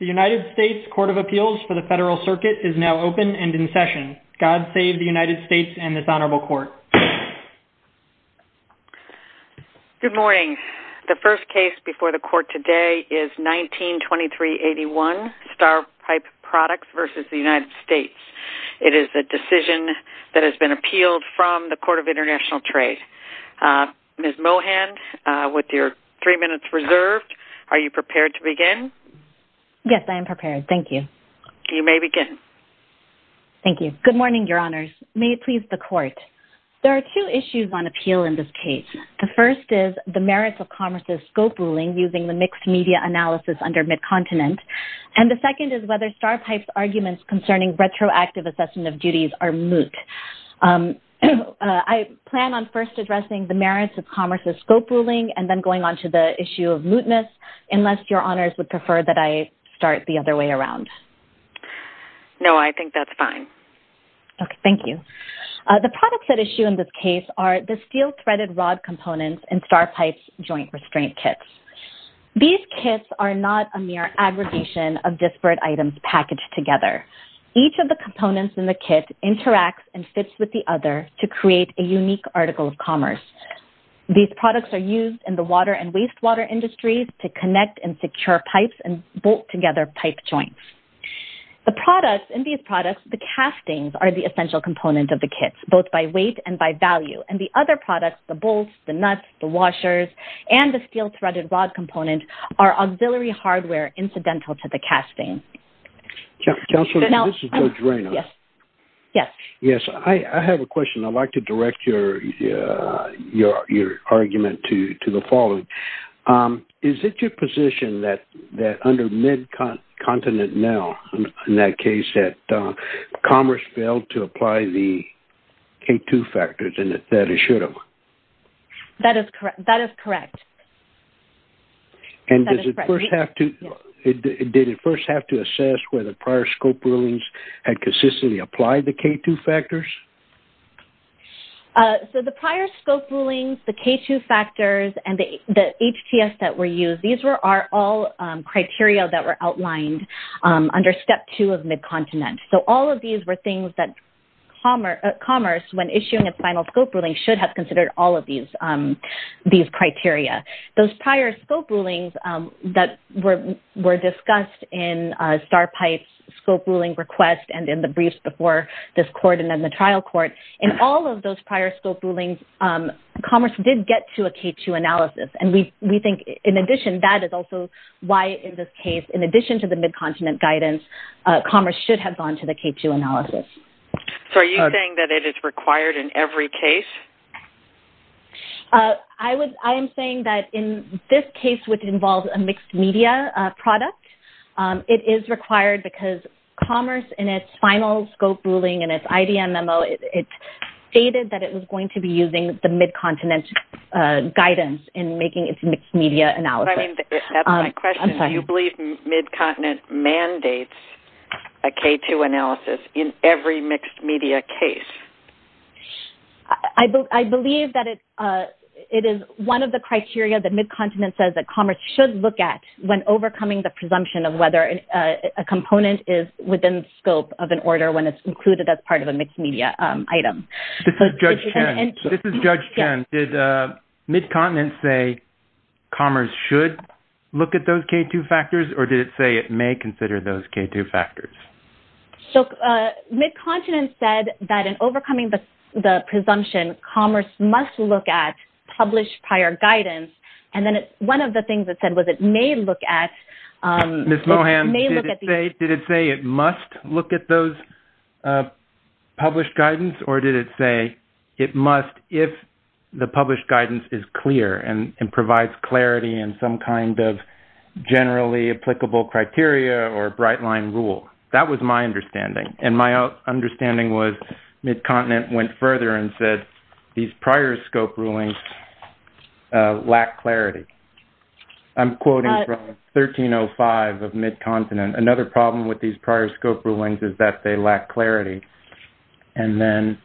The United States Court of Appeals for the Federal Circuit is now open and in session. God save the United States and this Honorable Court. Good morning. The first case before the Court today is 192381, Star Pipe Products v. United States. It is a decision that has been appealed from the Court of International Trade. Ms. Mohand, with your three minutes reserved, are you prepared to begin? Yes, I am prepared. Thank you. You may begin. Thank you. Good morning, Your Honors. May it please the Court. There are two issues on appeal in this case. The first is the merits of commerce's scope ruling using the mixed media analysis under Midcontinent and the second is whether Star Pipe's arguments concerning retroactive assessment of duties are moot. I plan on first addressing the merits of commerce's scope ruling and then going on to the issue of mootness unless Your Honors would prefer that I start the other way around. No, I think that's fine. Thank you. The products at issue in this case are the steel threaded rod components in Star Pipe's joint restraint kits. These kits are not a mere aggregation of disparate items packaged together. Each of the components in the kit interacts and fits with the other to create a unique article of commerce. These products are used in the water and wastewater industries to connect and secure pipes and bolt together pipe joints. The products in these products, the castings, are the essential component of the kits, both by weight and by value, and the other products, the bolts, the nuts, the washers, and the steel threaded rod components are auxiliary hardware incidental to the casting. Counselor, this is George Reynolds. Yes. Yes. Yes, I have a question. I'd like to direct your argument to the following. Is it your position that under mid-continent now, in that case, that commerce failed to apply the K2 factors and that it should have? That is correct. And did it first have to assess whether prior scope rulings had consistently applied the K2 factors? So, the prior scope rulings, the K2 factors, and the HTS that were used, these are all criteria that were outlined under step two of mid-continent. So, all of these were things that commerce, when issuing its final scope ruling, should have considered all of these criteria. Those prior scope rulings that were discussed in Starpipe's scope ruling request and in the briefs before this court and then the trial court, in all of those prior scope rulings, commerce did get to a K2 analysis. And we think, in addition, that is also why, in this case, in addition to the mid-continent guidance, commerce should have gone to the K2 analysis. So, are you saying that it is required in every case? I am saying that in this case, which involves a mixed media product, it is required because commerce in its final scope ruling and its IDMMO, it stated that it was going to be using the mid-continent guidance in making its mixed media analysis. Do you believe mid-continent mandates a K2 analysis in every mixed media case? I believe that it is one of the criteria that mid-continent says that commerce should look at when overcoming the presumption of whether a component is within the scope of an order when it's included as part of a mixed media item. This is Judge Chen. Ms. Mohan, did mid-continent say commerce should look at those K2 factors, or did it say it may consider those K2 factors? So, mid-continent said that in overcoming the presumption, commerce must look at published prior guidance. And then one of the things it said was it may look at... Ms. Mohan, did it say it must look at those published guidance, or did it say it must if the published guidance is clear and provides clarity in some kind of generally applicable criteria or bright-line rule? That was my understanding, and my understanding was mid-continent went further and said these prior scope rulings lack clarity. I'm quoting from 1305 of mid-continent. Another problem with these prior scope rulings is that they lack clarity. And then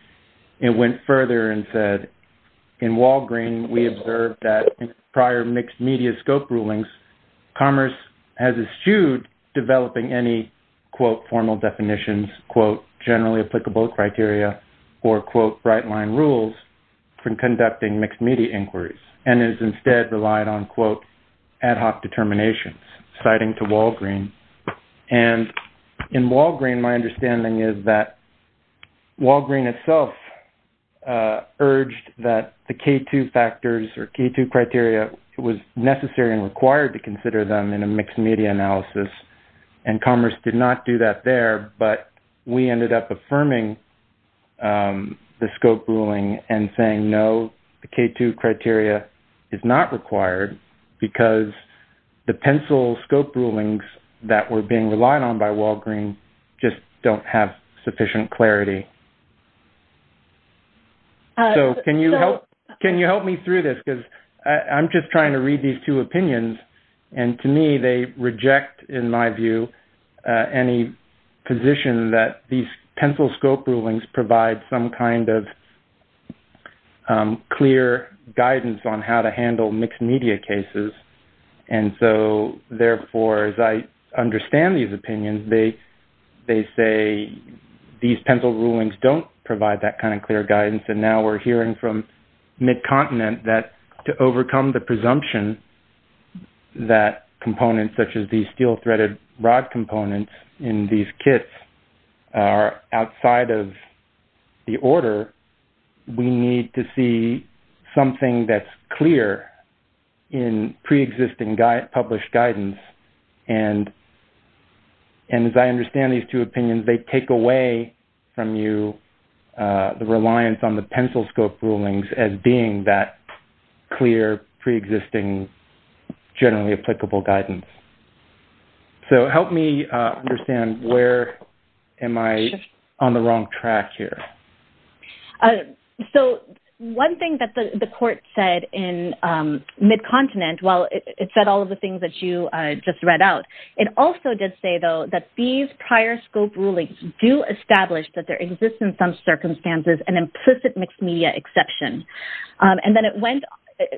it went further and said in Walgreen, we observed that in prior mixed media scope rulings, commerce has eschewed developing any, quote, formal definitions, quote, generally applicable criteria, or, quote, bright-line rules from conducting mixed media inquiries, and has instead relied on, quote, ad hoc determinations, citing to Walgreen. And in Walgreen, my understanding is that Walgreen itself urged that the K2 factors or K2 criteria was necessary and required to consider them in a mixed media analysis, and commerce did not do that there. But we ended up affirming the scope ruling and saying, no, the K2 criteria is not required because the pencil scope rulings that were being relied on by Walgreen just don't have sufficient clarity. So, can you help me through this? Because I'm just trying to read these two opinions, and to me, they reject, in my view, any position that these pencil scope rulings provide some kind of clear guidance on how to handle mixed media cases. And so, therefore, as I understand these opinions, they say these pencil rulings don't provide that kind of clear guidance, and now we're hearing from mid-continent that to overcome the presumption that components such as these steel-threaded rod components in these kits are outside of the order, we need to see something that's clear in pre-existing published guidance. And as I understand these two opinions, they take away from you the reliance on the pencil scope rulings as being that clear, pre-existing, generally applicable guidance. So, help me understand where am I on the wrong track here. So, one thing that the court said in mid-continent, while it said all of the things that you just read out, it also did say, though, that these prior scope rulings do establish that there exists in some circumstances an implicit mixed media exception. And then it went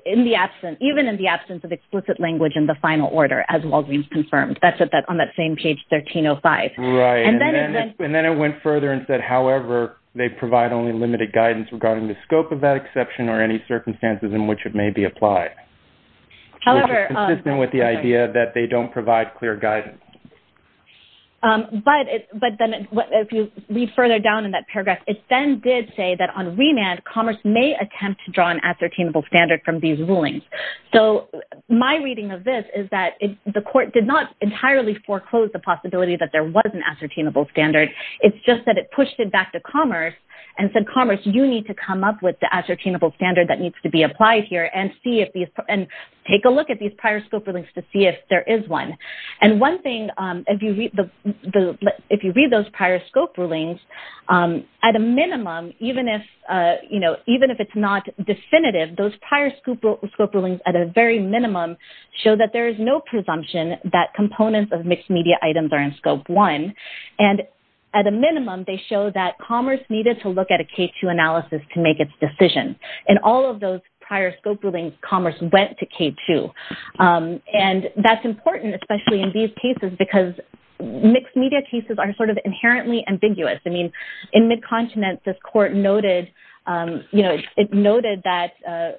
in the absence, even in the absence of explicit language in the final order, as Walgreens confirmed. That's on that same page 1305. Right. And then it went... And then it went further and said, however, they provide only limited guidance regarding the scope of that exception or any circumstances in which it may be applied. However... Which is consistent with the idea that they don't provide clear guidance. But then, if you read further down in that paragraph, it then did say that on remand, commerce may attempt to draw an ascertainable standard from these rulings. So, my reading of this is that the court did not entirely foreclose the possibility that there was an ascertainable standard. It's just that it pushed it back to commerce and said, commerce, you need to come up with the ascertainable standard that needs to be applied here and see if these... And take a look at these prior scope rulings to see if there is one. And one thing, if you read those prior scope rulings, at a minimum, even if it's not definitive, those prior scope rulings, at a very minimum, show that there is no presumption that components of mixed-media items are in scope one. And at a minimum, they show that commerce needed to look at a K2 analysis to make its decision. In all of those prior scope rulings, commerce went to K2. And that's important, especially in these cases, because mixed-media cases are sort of inherently ambiguous. I mean, in Mid-Continent, this court noted that,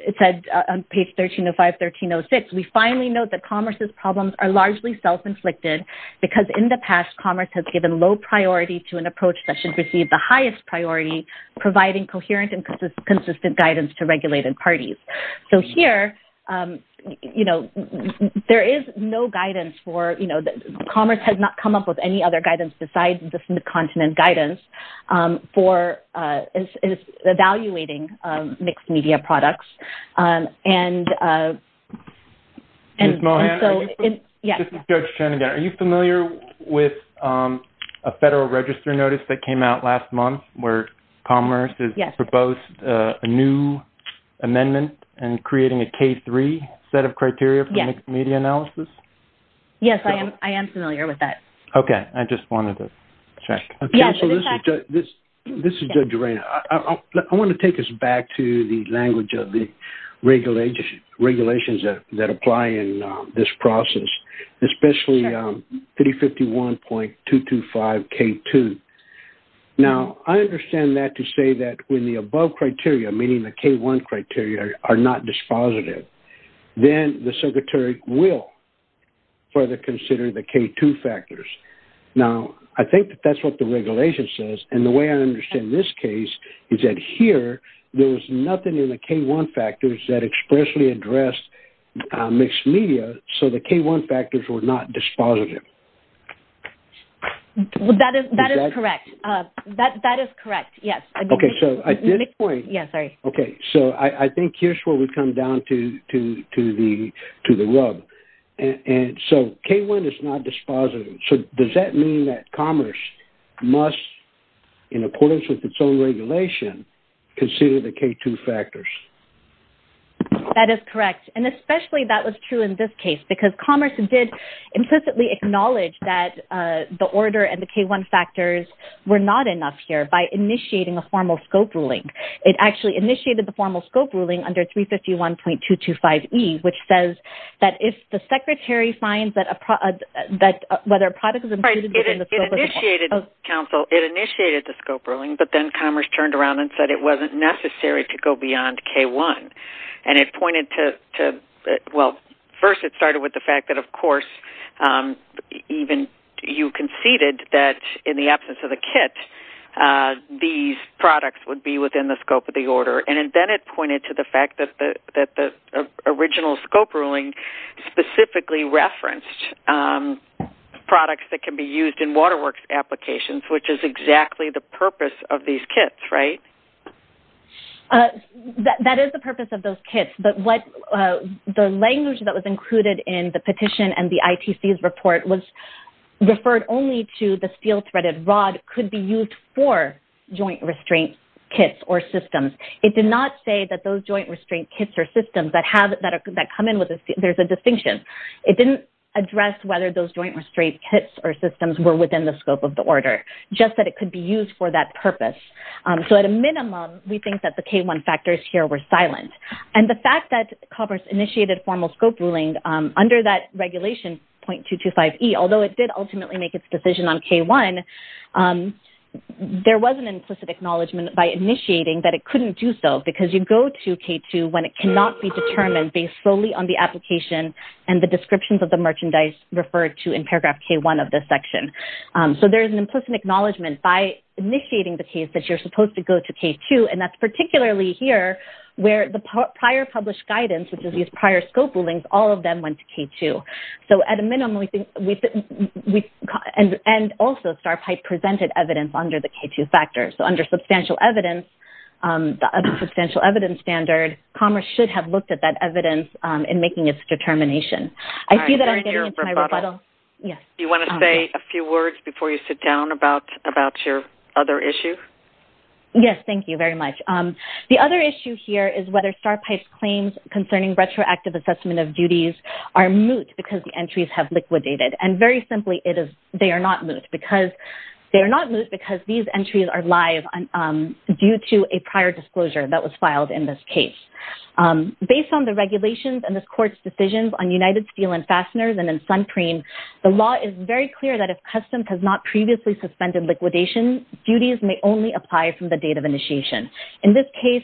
it said on page 1305, 1306, we finally note that commerce's problems are largely self-inflicted because in the past, commerce has given low priority to an approach that should receive the highest priority, providing coherent and consistent guidance to regulated parties. So here, there is no guidance for... Mid-Continent guidance for evaluating mixed-media products. Ms. Mohan? Yes. This is Judge Chen again. Are you familiar with a federal register notice that came out last month where commerce has proposed a new amendment and creating a K3 set of criteria for mixed-media analysis? Yes, I am familiar with that. Okay. I just wanted to check. Okay. So this is Judge Reina. I want to take us back to the language of the regulations that apply in this process, especially 3051.225K2. Now, I understand that to say that when the above criteria, meaning the K1 criteria, are not dispositive, then the circuitry will further consider the K2 factors. Now, I think that that's what the regulation says. And the way I understand this case is that here, there was nothing in the K1 factors that expressly addressed mixed-media. So the K1 factors were not dispositive. That is correct. That is correct. Yes. Okay. So I did... Here's where we've come down to the rub. And so K1 is not dispositive. So does that mean that commerce must, in accordance with its own regulation, consider the K2 factors? That is correct. And especially that was true in this case because commerce did implicitly acknowledge that the order and the K1 factors were not enough here by initiating a formal scope ruling. It actually initiated the formal scope ruling under 351.225E, which says that if the secretary finds that a product... Whether a product is included within the scope of the... Right. It initiated... Counsel, it initiated the scope ruling, but then commerce turned around and said it wasn't necessary to go beyond K1. And it pointed to... Well, first, it started with the fact that, of course, even you conceded that in the absence of the kit, these products would be within the scope of the order. And then it pointed to the fact that the original scope ruling specifically referenced products that can be used in WaterWorks applications, which is exactly the purpose of these kits, right? That is the purpose of those kits. But what... The language that was included in the petition and the ITC's report was referred only to the steel-threaded rod could be used for joint restraint kits or systems. It did not say that those joint restraint kits or systems that have... That come in with a... There's a distinction. It didn't address whether those joint restraint kits or systems were within the scope of the order, just that it could be used for that purpose. So at a minimum, we think that the K1 factors here were silent. And the fact that commerce initiated formal scope ruling under that regulation, .225E, although it did ultimately make its decision on K1, there was an implicit acknowledgement by initiating that it couldn't do so because you go to K2 when it cannot be determined based solely on the application and the descriptions of the merchandise referred to in paragraph K1 of this section. So there is an implicit acknowledgement by initiating the case that you're supposed to go to K2. And that's particularly here where the prior published guidance, which is these prior scope rulings, all of them went to K2. So at a minimum, we think... And also, Starpipe presented evidence under the K2 factors. So under substantial evidence, the other substantial evidence standard, commerce should have looked at that evidence in making its determination. I see that I'm getting into my rebuttal. All right. You're in your rebuttal. Yes. Do you want to say a few words before you sit down about your other issue? Yes. Thank you very much. The other issue here is whether Starpipe's claims concerning retroactive assessment of the merchandise are moot because the entries have liquidated. And very simply, they are not moot because these entries are live due to a prior disclosure that was filed in this case. Based on the regulations and this court's decisions on United Steel and Fasteners and in Suncreen, the law is very clear that if custom has not previously suspended liquidation, duties may only apply from the date of initiation. In this case,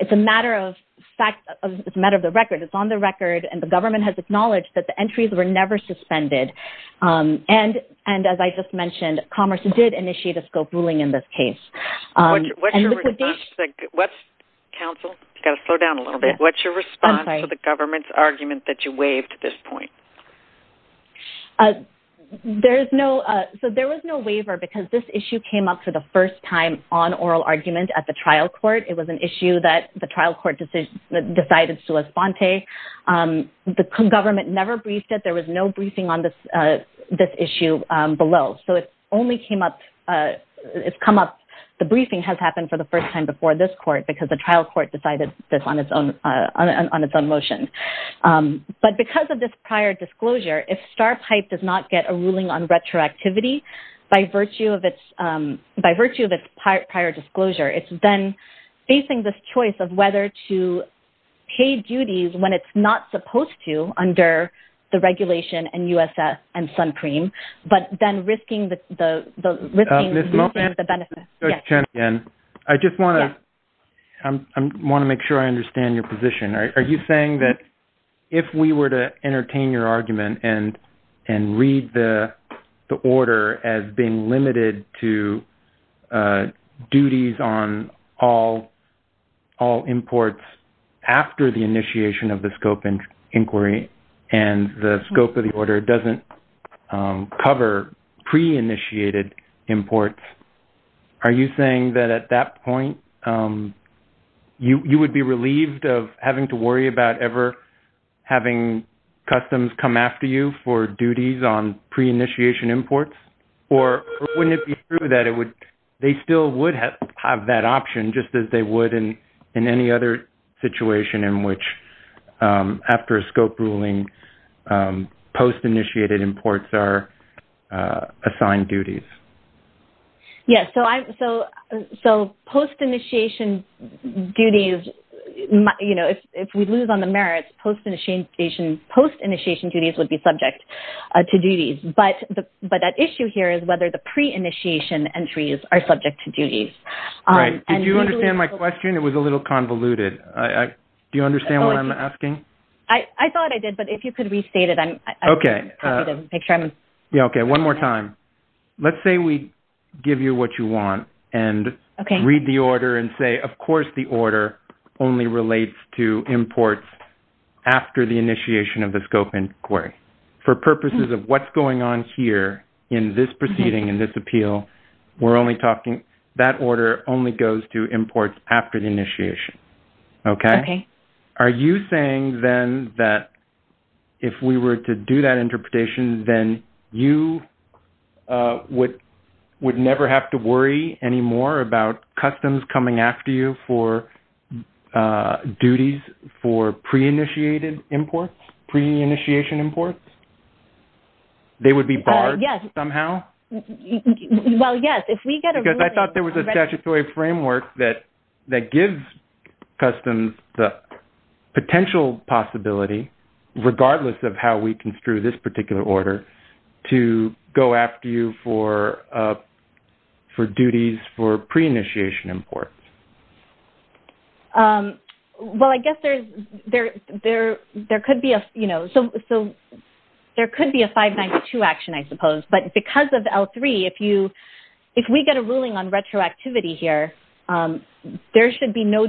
it's a matter of fact, it's a matter of the record. It's on the record and the government has acknowledged that the entries were never suspended. And as I just mentioned, commerce did initiate a scope ruling in this case. What's your response to the government's argument that you waived at this point? So there was no waiver because this issue came up for the first time on oral argument at the trial court. It was an issue that the trial court decided to respond to. The government never briefed it. There was no briefing on this issue below. So it only came up, it's come up, the briefing has happened for the first time before this court because the trial court decided this on its own motion. But because of this prior disclosure, if Starpipe does not get a ruling on retroactivity by facing this choice of whether to pay duties when it's not supposed to under the regulation and USS and Suncreme, but then risking the benefits. Ms. Moghan, I just want to make sure I understand your position. Are you saying that if we were to entertain your argument and read the order as being all imports after the initiation of the scope inquiry and the scope of the order doesn't cover pre-initiated imports, are you saying that at that point you would be relieved of having to worry about ever having customs come after you for duties on pre-initiation imports? Or wouldn't it be true that they still would have that option just as they would in any other situation in which after a scope ruling, post-initiated imports are assigned duties? Yes. So post-initiation duties, you know, if we lose on the merits, post-initiation duties would be subject to duties. But that issue here is whether the pre-initiation entries are subject to duties. Right. Did you understand my question? It was a little convoluted. Do you understand what I'm asking? I thought I did, but if you could restate it, I'm happy to make sure I'm... Okay. One more time. Let's say we give you what you want and read the order and say, of course, the order only relates to imports after the initiation of the scope inquiry. For purposes of what's going on here in this proceeding and this appeal, we're only talking that order only goes to imports after the initiation. Okay? Okay. Are you saying then that if we were to do that interpretation, then you would never have to worry anymore about customs coming after you for duties for pre-initiated imports, pre-initiation imports? They would be barred somehow? Yes. Well, yes. If we get a ruling... Because I thought there was a statutory framework that gives customs the potential possibility, regardless of how we construe this particular order, to go after you for duties for pre-initiation imports. Well, I guess there could be a 592 action, I suppose, but because of L3, if we get a ruling on retroactivity here, there should be no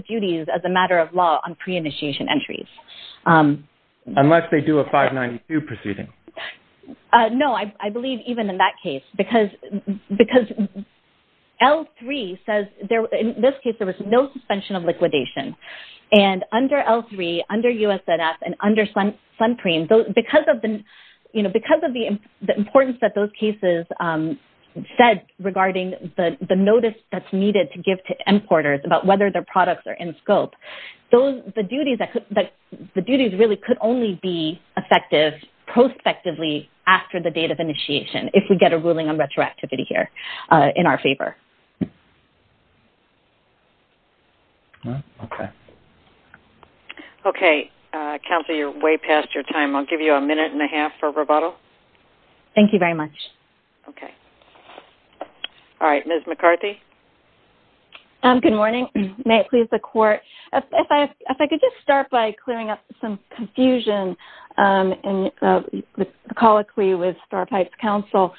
duties as a matter of law on pre-initiation entries. Unless they do a 592 proceeding. No, I believe even in that case, because L3 says... In this case, there was no suspension of liquidation. And under L3, under USNF, and under SUNPREME, because of the importance that those cases said regarding the notice that's needed to give to importers about whether their products are in scope, the duties really could only be effective prospectively after the date of initiation, if we get a ruling on retroactivity here, in our favor. Okay. Okay. Counselor, you're way past your time. I'll give you a minute and a half for rebuttal. Thank you very much. Okay. All right. Ms. McCarthy? Good morning. May it please the court? If I could just start by clearing up some confusion and colloquy with Starpipe's counsel.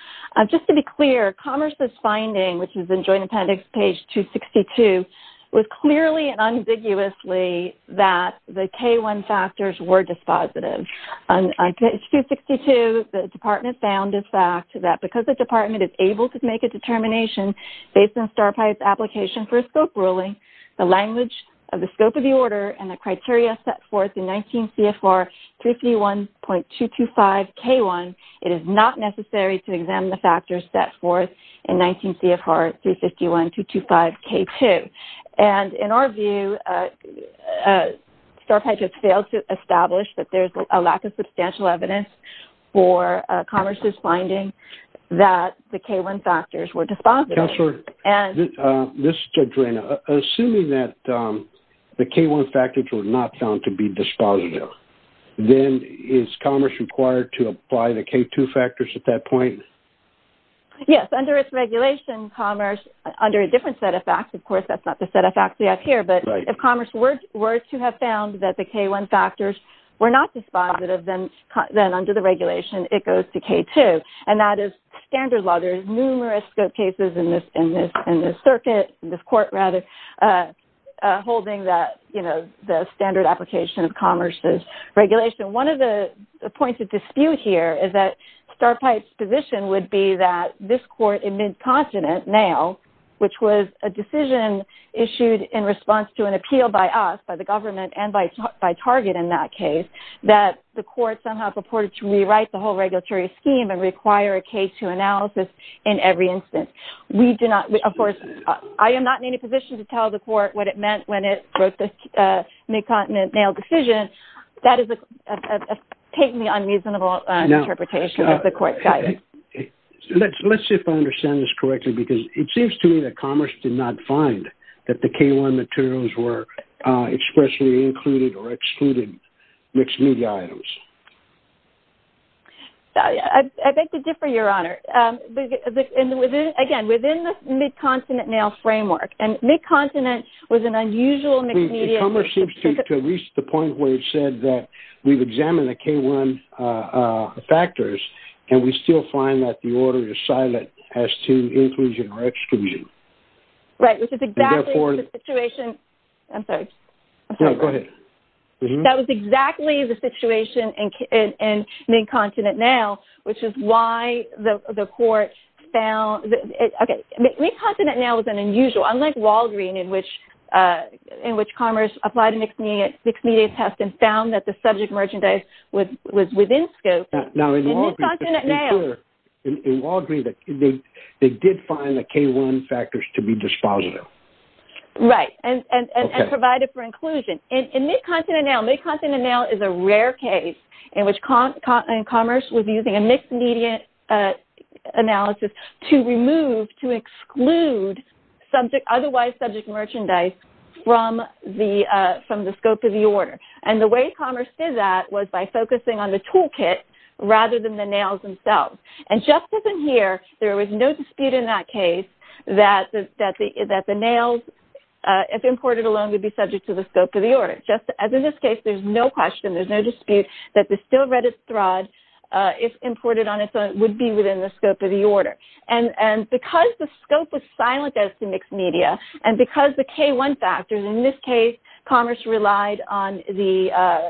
Just to be clear, Commerce's finding, which is in Joint Appendix, page 262, was clearly and unambiguously that the K1 factors were dispositive. On page 262, the department found a fact that because the department is able to make a determination based on Starpipe's application for a scope ruling, the language of the scope of the order and the criteria set forth in 19 CFR 351.225 K1, it is not necessary to examine the factors set forth in 19 CFR 351.225 K2. And in our view, Starpipe has failed to establish that there's a lack of substantial evidence for Commerce's finding that the K1 factors were dispositive. Counselor, this is Judge Rayna. Assuming that the K1 factors were not found to be dispositive, then is Commerce required to apply the K2 factors at that point? Yes. Under its regulation, Commerce, under a different set of facts, of course, that's not the set of facts we have here, but if Commerce were to have found that the K1 factors were not dispositive under the regulation, it goes to K2. And that is standard law. There's numerous cases in this circuit, in this court rather, holding that, you know, the standard application of Commerce's regulation. One of the points of dispute here is that Starpipe's position would be that this court in mid-continent now, which was a decision issued in response to an appeal by us, by government, and by Target in that case, that the court somehow purported to rewrite the whole regulatory scheme and require a K2 analysis in every instance. We do not, of course, I am not in any position to tell the court what it meant when it wrote the mid-continent nail decision. That has taken the unreasonable interpretation of the court's guidance. Let's see if I understand this correctly, because it seems to me that Commerce did not find that the K1 materials were expressly included or excluded mixed-media items. I beg to differ, Your Honor. Again, within the mid-continent nail framework, and mid-continent was an unusual mixed-media The Commerce seems to have reached the point where it said that we've examined the K1 factors and we still find that the order is silent as to inclusion or exclusion. Right, which is exactly the situation... And therefore... I'm sorry. No, go ahead. That was exactly the situation in mid-continent nail, which is why the court found... Okay. Mid-continent nail was an unusual, unlike Walgreen, in which Commerce applied a mixed-media test and found that the subject merchandise was within scope. Now, in Walgreen... In mid-continent nail... In Walgreen, they did find the K1 factors to be dispositive. Right, and provided for inclusion. Okay. In mid-continent nail, mid-continent nail is a rare case in which Commerce was using a mixed-media analysis to remove, to exclude, otherwise subject merchandise from the scope of the order. And the way Commerce did that was by focusing on the toolkit rather than the nails themselves. And just as in here, there was no dispute in that case that the nails, if imported alone, would be subject to the scope of the order. Just as in this case, there's no question, there's no dispute that the still-reddit thread, if imported on its own, would be within the scope of the order. And because the scope was silent as to mixed-media, and because the K1 factors, in this case, Commerce relied on the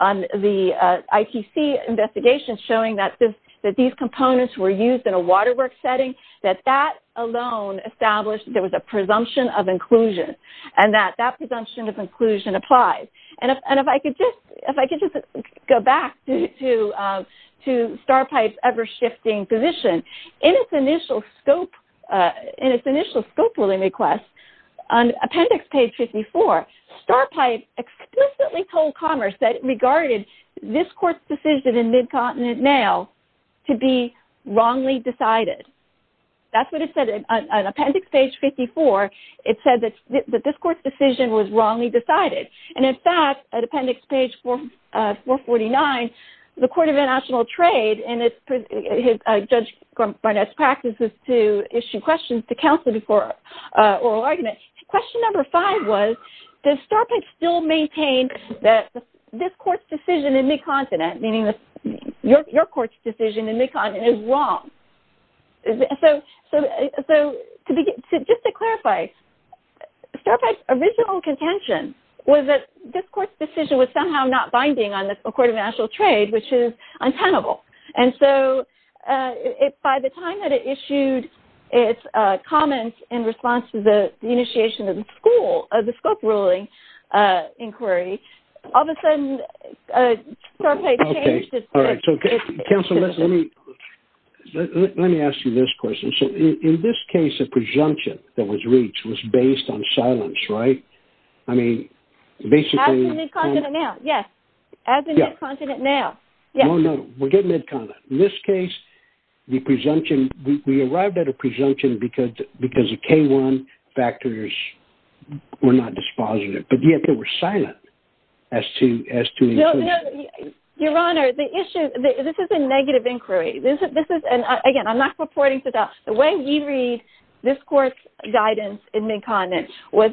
ITC investigation showing that these components were used in a waterwork setting, that that alone established there was a presumption of inclusion. And that that presumption of inclusion applies. And if I could just go back to Starpipe's ever-shifting position, in its initial scope of the order, on Appendix Page 54, Starpipe explicitly told Commerce that it regarded this court's decision in Mid-Continent Mail to be wrongly decided. That's what it said on Appendix Page 54. It said that this court's decision was wrongly decided. And in fact, at Appendix Page 449, the Court of International Trade, and Judge Barnett's practices to issue questions to counsel before oral argument, question number five was, does Starpipe still maintain that this court's decision in Mid-Continent, meaning your court's decision in Mid-Continent, is wrong? So just to clarify, Starpipe's original contention was that this court's decision was somehow not binding on the Court of International Trade, which is untenable. And so, by the time that it issued its comments in response to the initiation of the scope ruling inquiry, all of a sudden, Starpipe changed its stance. Okay. All right. So counsel, let me ask you this question. So in this case, a presumption that was reached was based on silence, right? I mean, basically... As in Mid-Continent Mail, yes. As in Mid-Continent Mail. Yes. No, no. We're getting there. We're getting to Mid-Continent. In this case, the presumption, we arrived at a presumption because the K-1 factors were not dispositive. But yet, they were silent as to the inclusion. No, no. Your Honor, the issue, this is a negative inquiry. This is, and again, I'm not purporting to doubt, the way we read this court's guidance in Mid-Continent was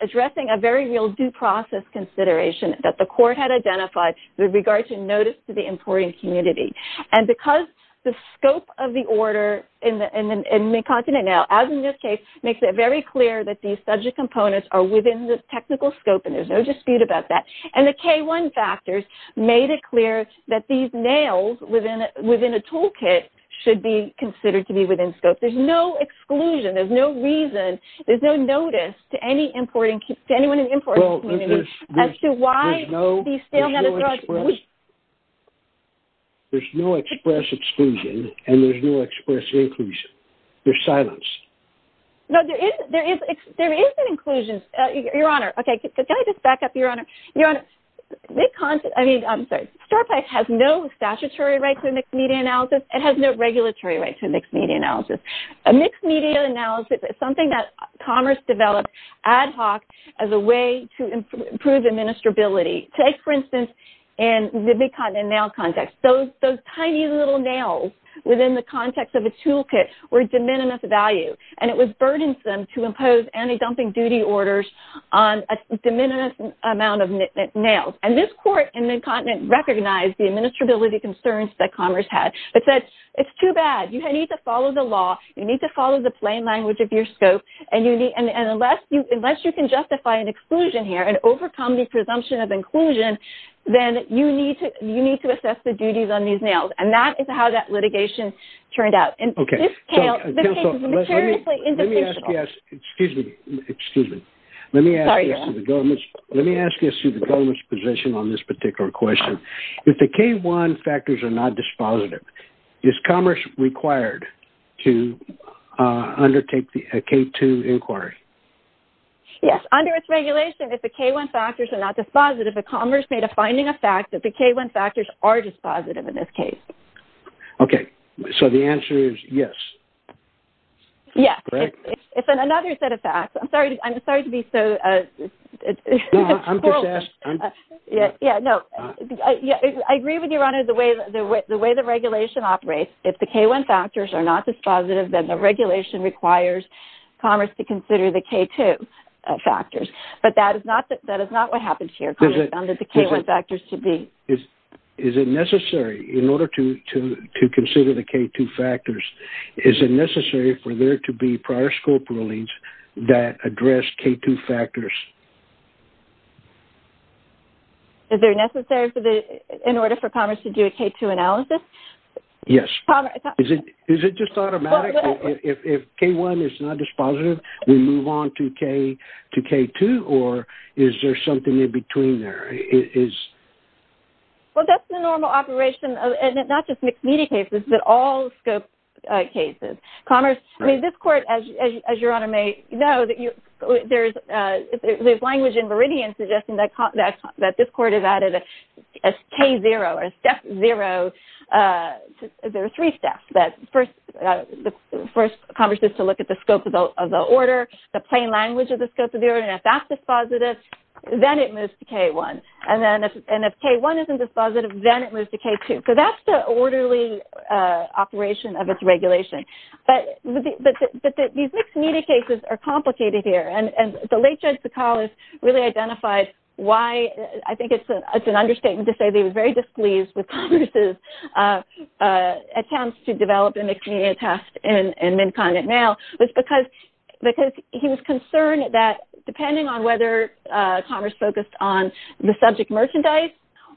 addressing a very real due process consideration that the court had And because the scope of the order in Mid-Continent Mail, as in this case, makes it very clear that these subject components are within the technical scope, and there's no dispute about that, and the K-1 factors made it clear that these nails within a toolkit should be considered to be within scope. There's no exclusion. There's no reason. There's no notice to anyone in the importing community as to why these stale metal drugs There's no express exclusion, and there's no express inclusion. They're silenced. No, there is an inclusion, Your Honor. Okay, can I just back up, Your Honor? Your Honor, Mid-Continent, I mean, I'm sorry, StarPipe has no statutory right to mixed-media analysis. It has no regulatory right to mixed-media analysis. A mixed-media analysis is something that Commerce developed ad hoc as a way to improve administrability. Take, for instance, in the Mid-Continent Mail context. Those tiny little nails within the context of a toolkit were de minimis value, and it was burdensome to impose anti-dumping duty orders on a de minimis amount of nails. And this court in Mid-Continent recognized the administrability concerns that Commerce had. It said, it's too bad. You need to follow the law. You need to follow the plain language of your scope, and unless you can justify an exclusion here and overcome the presumption of inclusion, then you need to assess the duties on these nails. And that is how that litigation turned out. Okay. And this case is materially indefensible. Excuse me. Excuse me. Let me ask this to the government's position on this particular question. If the K-1 factors are not dispositive, is Commerce required to undertake a K-2 inquiry? Yes. Under its regulation, if the K-1 factors are not dispositive, is Commerce made a finding of fact that the K-1 factors are dispositive in this case? Okay. So the answer is yes. Yes. Correct? It's another set of facts. I'm sorry to be so... No. I'm just asking. Yeah. No. I agree with you, Your Honor. The way the regulation operates, if the K-1 factors are not dispositive, then the regulation requires Commerce to consider the K-2 factors. But that is not what happens here. Commerce found that the K-1 factors should be... Is it necessary, in order to consider the K-2 factors, is it necessary for there to be prior scope rulings that address K-2 factors? Is it necessary in order for Commerce to do a K-2 analysis? Yes. Is it just automatic? If K-1 is not dispositive, we move on to K-2? Or is there something in between there? Well, that's the normal operation of not just mixed media cases, but all scope cases. Commerce... I mean, this Court, as Your Honor may know, there's language in Meridian suggesting that this Court has added a K-0, or a step zero. There are three steps. First, Commerce needs to look at the scope of the order, the plain language of the scope of the order. And if that's dispositive, then it moves to K-1. And if K-1 isn't dispositive, then it moves to K-2. So that's the orderly operation of its regulation. But these mixed media cases are complicated here. And the late Judge Sakalas really identified why... I think it's an understatement to say they were very displeased with Commerce's attempts to develop a mixed media test in Minkan at Nail, because he was concerned that depending on whether Commerce focused on the subject merchandise,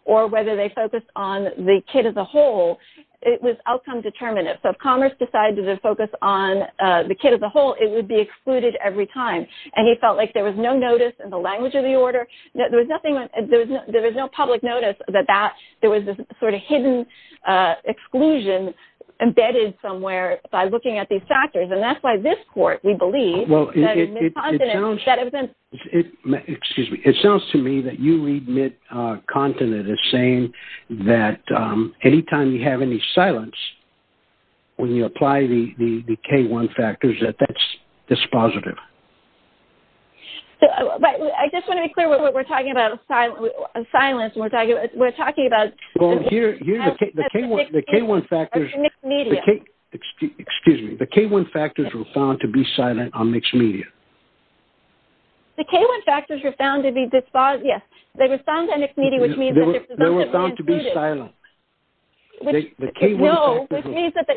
or whether they focused on the kid as a whole, it was outcome determinative. So if Commerce decided to focus on the kid as a whole, it would be excluded every time. And he felt like there was no notice in the language of the order, there was no public notice that there was this sort of hidden exclusion embedded somewhere by looking at these factors. And that's why this Court, we believe... Well, it sounds... Excuse me. It sounds to me that you read Mint Continent as saying that any time you have any silence, when you apply the K-1 factors, that that's dispositive. I just want to be clear what we're talking about silence. We're talking about... Well, here the K-1 factors... Excuse me. The K-1 factors were found to be silent on mixed media. The K-1 factors were found to be dispositive, yes. They were found on mixed media, which means... They were found to be silent. No, which means that...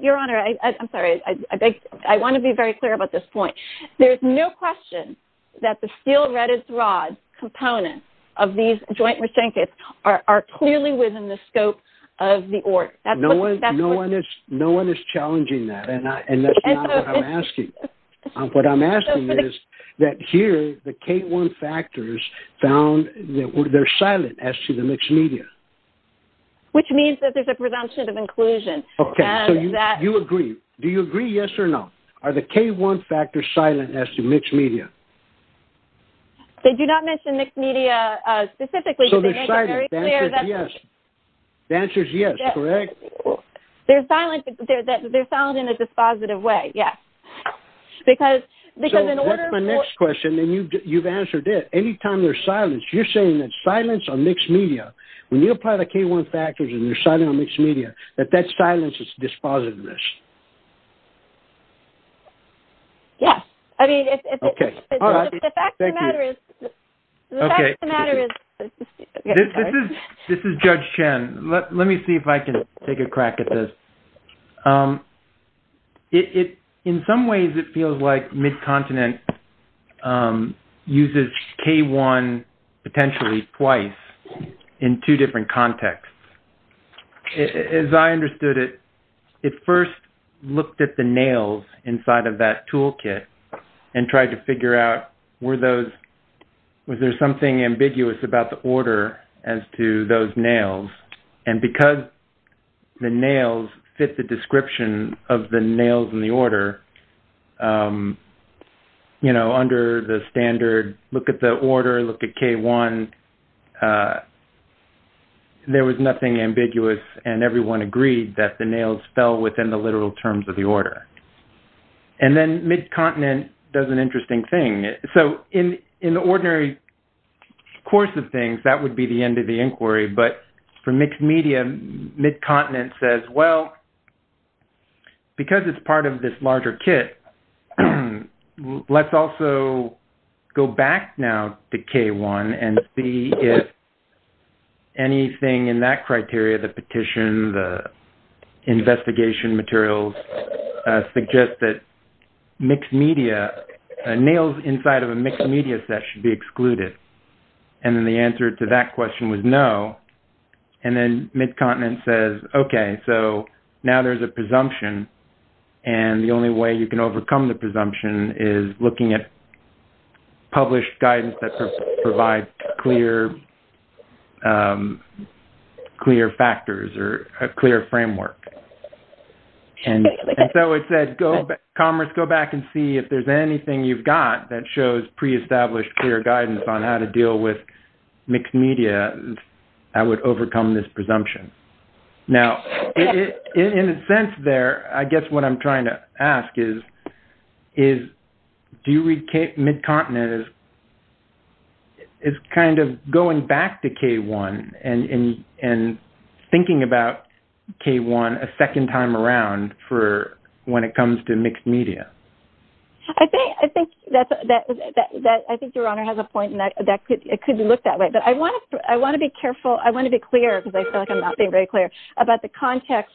Your Honor, I'm sorry. I want to be very clear about this point. There's no question that the steel-readeth-rod components of these joint restraint kits are clearly within the scope of the order. No one is challenging that, and that's not what I'm asking. What I'm asking is that here the K-1 factors found that they're silent as to the mixed media. Which means that there's a presumption of inclusion. Okay. So you agree. Do you agree, yes or no? Are the K-1 factors silent as to mixed media? They do not mention mixed media specifically. So they're silent. The answer is yes. The answer is yes, correct? They're silent in a dispositive way, yes. Because in order for... So that's my next question, and you've answered it. Anytime there's silence, you're saying that silence on mixed media, when you apply the K-1 factors and you're silent on mixed media, that that silence is dispositiveness. Yes. I mean, if... Okay. All right. Thank you. The fact of the matter is... Okay. This is Judge Chen. Let me see if I can take a crack at this. It... In some ways, it feels like MidContinent uses K-1 potentially twice in two different contexts. As I understood it, it first looked at the nails inside of that toolkit and tried to figure out were those... Was there something ambiguous about the order as to those nails? And because the nails fit the description of the nails in the order, you know, under the standard, look at the order, look at K-1, there was nothing ambiguous and everyone agreed that the nails fell within the literal terms of the order. And then MidContinent does an interesting thing. So, in the ordinary course of things, that would be the end of the inquiry. But for mixed media, MidContinent says, well, because it's part of this larger kit, let's also go back now to K-1 and see if anything in that criteria, the petition, the investigation materials suggest that mixed media, nails inside of a mixed media set should be excluded. And then the answer to that question was no. And then MidContinent says, okay, so now there's a presumption and the only way you can overcome the presumption is looking at published guidance that provides clear factors or a clear framework. And so it said, Commerce, go back and see if there's anything you've got that shows pre-established clear guidance on how to deal with mixed media that would overcome this presumption. Now, in a sense there, I guess what I'm trying to ask is, do you read MidContinent as kind of going back to K-1 and thinking about K-1 a second time around for when it comes to mixed media? I think Your Honor has a point and it could look that way, but I want to be careful. I want to be clear because I feel like I'm not being very clear about the context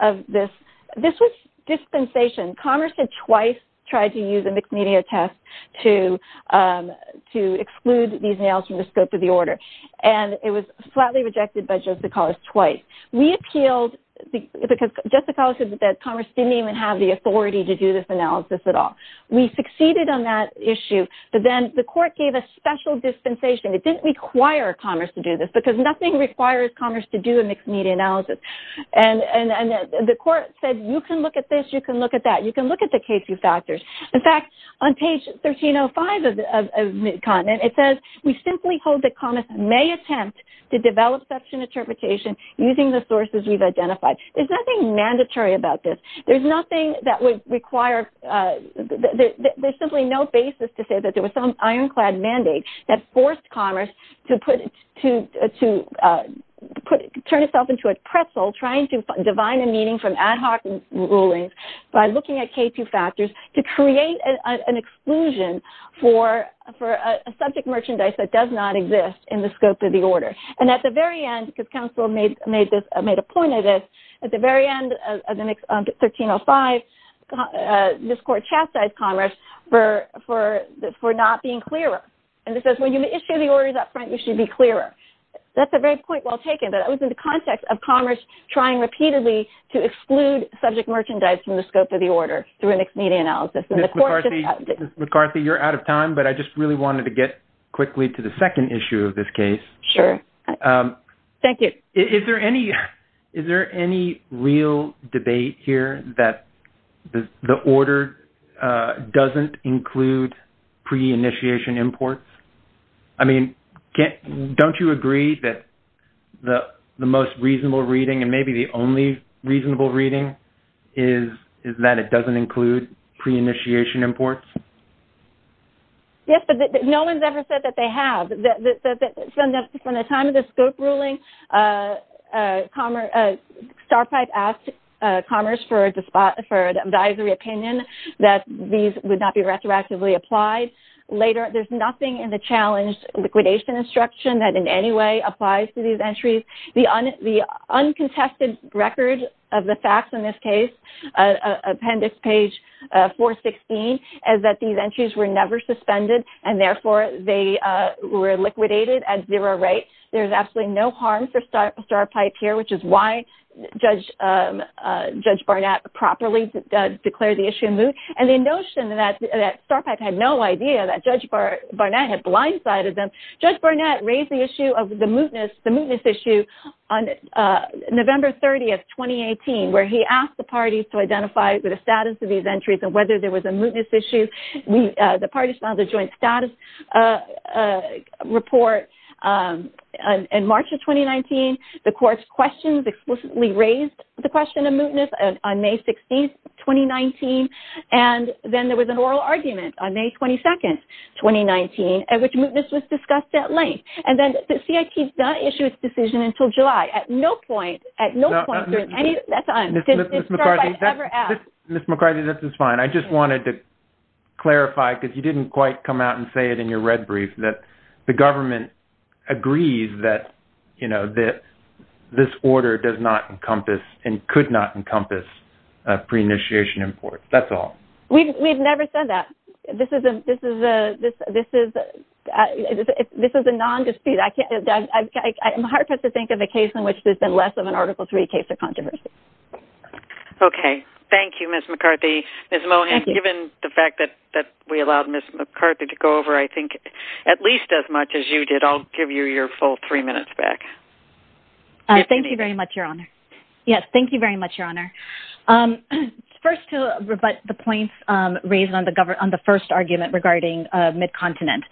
of this. This was dispensation. Commerce had twice tried to use a mixed media test to exclude these nails from the scope of the order. And it was flatly rejected by Jessica Hollis twice. We appealed because Jessica Hollis said that Commerce didn't even have the authority to do this analysis at all. We succeeded on that issue, but then the court gave a special dispensation. It didn't require Commerce to do this because nothing requires Commerce to do a mixed media analysis. And the court said, you can look at this, you can look at that, you can look at the K-2 factors. In fact, on page 1305 of MidContinent, it says, we simply hold that Commerce may attempt to develop such an interpretation using the sources we've identified. There's nothing mandatory about this. There's nothing that would require, there's simply no basis to say that there was some counsel trying to define a meaning from ad hoc rulings by looking at K-2 factors to create an exclusion for a subject merchandise that does not exist in the scope of the order. And at the very end, because counsel made a point of this, at the very end of 1305, this court chastised Commerce for not being clearer. And it says, when you issue the orders up front, you should be clearer. That's a very point well taken, but it was in the context of Commerce trying repeatedly to exclude subject merchandise from the scope of the order through a mixed media analysis. Ms. McCarthy, you're out of time, but I just really wanted to get quickly to the second issue of this case. Sure. Thank you. Is there any real debate here that the order doesn't include pre-initiation imports? I mean, don't you agree that the most reasonable reading and maybe the only reasonable reading is that it doesn't include pre-initiation imports? Yes, but no one's ever said that they have. From the time of the scope ruling, Starpipe asked Commerce for an advisory opinion that these would not be retroactively applied. There's nothing in the challenge liquidation instruction that in any way applies to these entries. The uncontested record of the facts in this case, appendix page 416, is that these entries were never suspended, and therefore they were liquidated at zero rate. There's absolutely no harm for Starpipe here, which is why Judge Barnett properly declared the issue moot. The notion that Starpipe had no idea that Judge Barnett had blindsided them, Judge Barnett raised the issue of the mootness issue on November 30th, 2018, where he asked the parties to identify the status of these entries and whether there was a mootness issue. The parties filed a joint status report in March of 2019. The court's questions explicitly raised the question of mootness on May 16th, 2019, and then there was an oral argument on May 22nd, 2019, at which mootness was discussed at length. And then the CIT's not issued its decision until July. At no point, at no point during any of that time did Starpipe ever ask. Ms. McCarthy, this is fine. I just wanted to clarify, because you didn't quite come out and say it in your red brief, that the government agrees that, you know, that this order does not encompass and could not encompass pre-initiation imports. That's all. We've never said that. This is a non dispute. I'm hard pressed to think of a case in which there's been less of an Article 3 case of controversy. Okay. Thank you, Ms. McCarthy. Ms. Mohan, given the fact that we allowed Ms. McCarthy to go over, I think, at least as much as you did, I'll give you your full three minutes back. Thank you very much, Your Honor. Yes, thank you very much, Your Honor. First, to rebut the points raised on the first argument regarding midcontinent.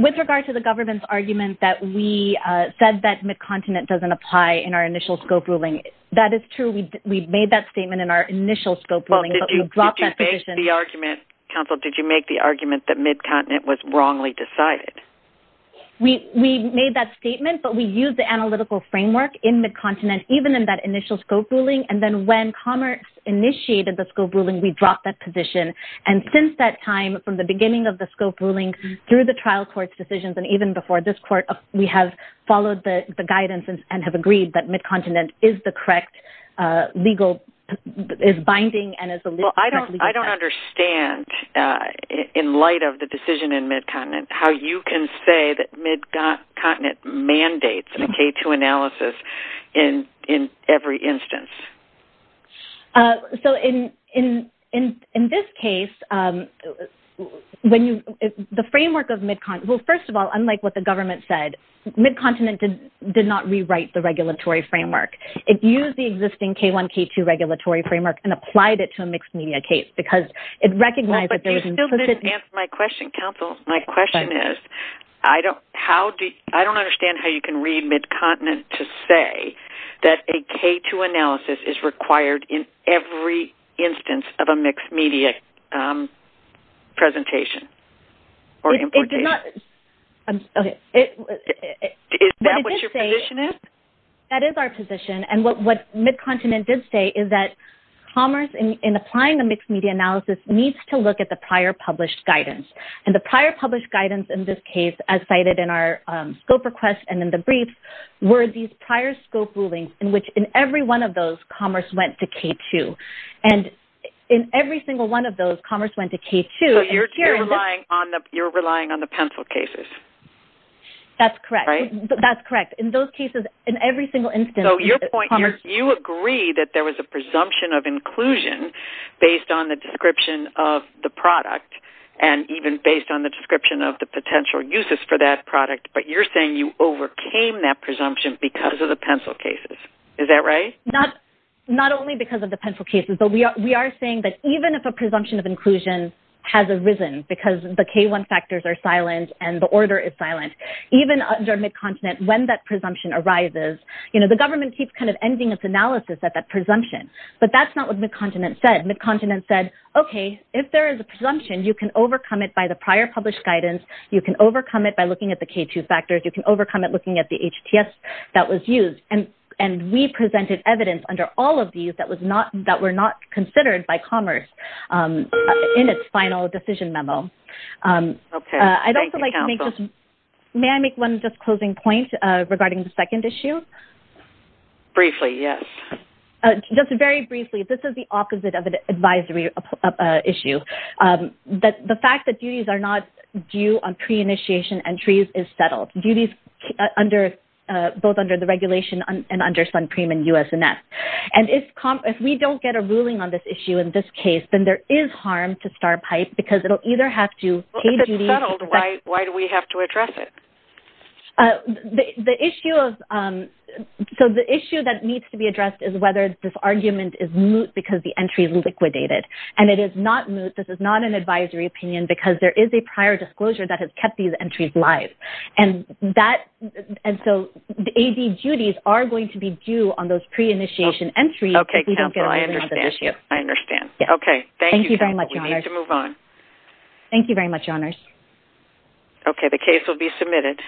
With regard to the government's argument that we said that midcontinent doesn't apply in our initial scope ruling, that is true. We made that statement in our initial scope ruling, but we dropped that position. Counsel, did you make the argument that midcontinent was wrongly decided? We made that statement, but we used the analytical framework in midcontinent, even in that initial scope ruling. And then when Commerce initiated the scope ruling, we dropped that position. And since that time, from the beginning of the scope ruling through the trial court's decisions and even before this court, we have followed the guidance and have agreed that midcontinent is the correct legal, is binding and is the correct legal sentence. I don't understand, in light of the decision in midcontinent, how you can say that midcontinent mandates a K-2 analysis in every instance. So in this case, the framework of midcontinent, well, first of all, unlike what the government said, midcontinent did not rewrite the regulatory framework. It used the existing K-1, K-2 regulatory framework and applied it to a mixed media case because it recognized that there was... But you still didn't answer my question, counsel. My question is, I don't understand how you can read midcontinent to say that a K-2 analysis is required in every instance of a mixed media presentation or importation. It did not... Okay. Is that what your position is? That is our position, and what midcontinent did say is that Commerce, in applying the mixed media analysis, needs to look at the prior published guidance. And the prior published guidance in this case, as cited in our scope request and in the brief, were these prior scope rulings in which, in every one of those, Commerce went to K-2. And in every single one of those, Commerce went to K-2. So you're relying on the pencil cases. That's correct. Right? That's correct. In those cases, in every single instance, Commerce... of the potential uses for that product, but you're saying you overcame that presumption because of the pencil cases. Is that right? Not only because of the pencil cases, but we are saying that even if a presumption of inclusion has arisen because the K-1 factors are silent and the order is silent, even under midcontinent, when that presumption arises, you know, the government keeps kind of ending its analysis at that presumption. But that's not what midcontinent said. Midcontinent said, okay, if there is a presumption, you can overcome it by the prior published guidance. You can overcome it by looking at the K-2 factors. You can overcome it looking at the HTS that was used. And we presented evidence under all of these that were not considered by Commerce in its final decision memo. Okay. Thank you, counsel. May I make one just closing point regarding the second issue? Briefly, yes. Just very briefly, this is the opposite of an advisory issue. The fact that duties are not due on pre-initiation entries is settled. Duties both under the regulation and under Suncreme and USNS. And if we don't get a ruling on this issue in this case, then there is harm to Starpipe because it will either have to pay duties. If it's settled, why do we have to address it? The issue of – so the issue that needs to be addressed is whether this argument is moot because the entry is liquidated. And it is not moot. This is not an advisory opinion because there is a prior disclosure that has kept these entries live. And that – and so the AD duties are going to be due on those pre-initiation entries if we don't get a ruling on this issue. Okay, counsel. I understand. I understand. Okay. Thank you, counsel. We need to move on. Thank you very much, your honors. Okay. The case will be submitted.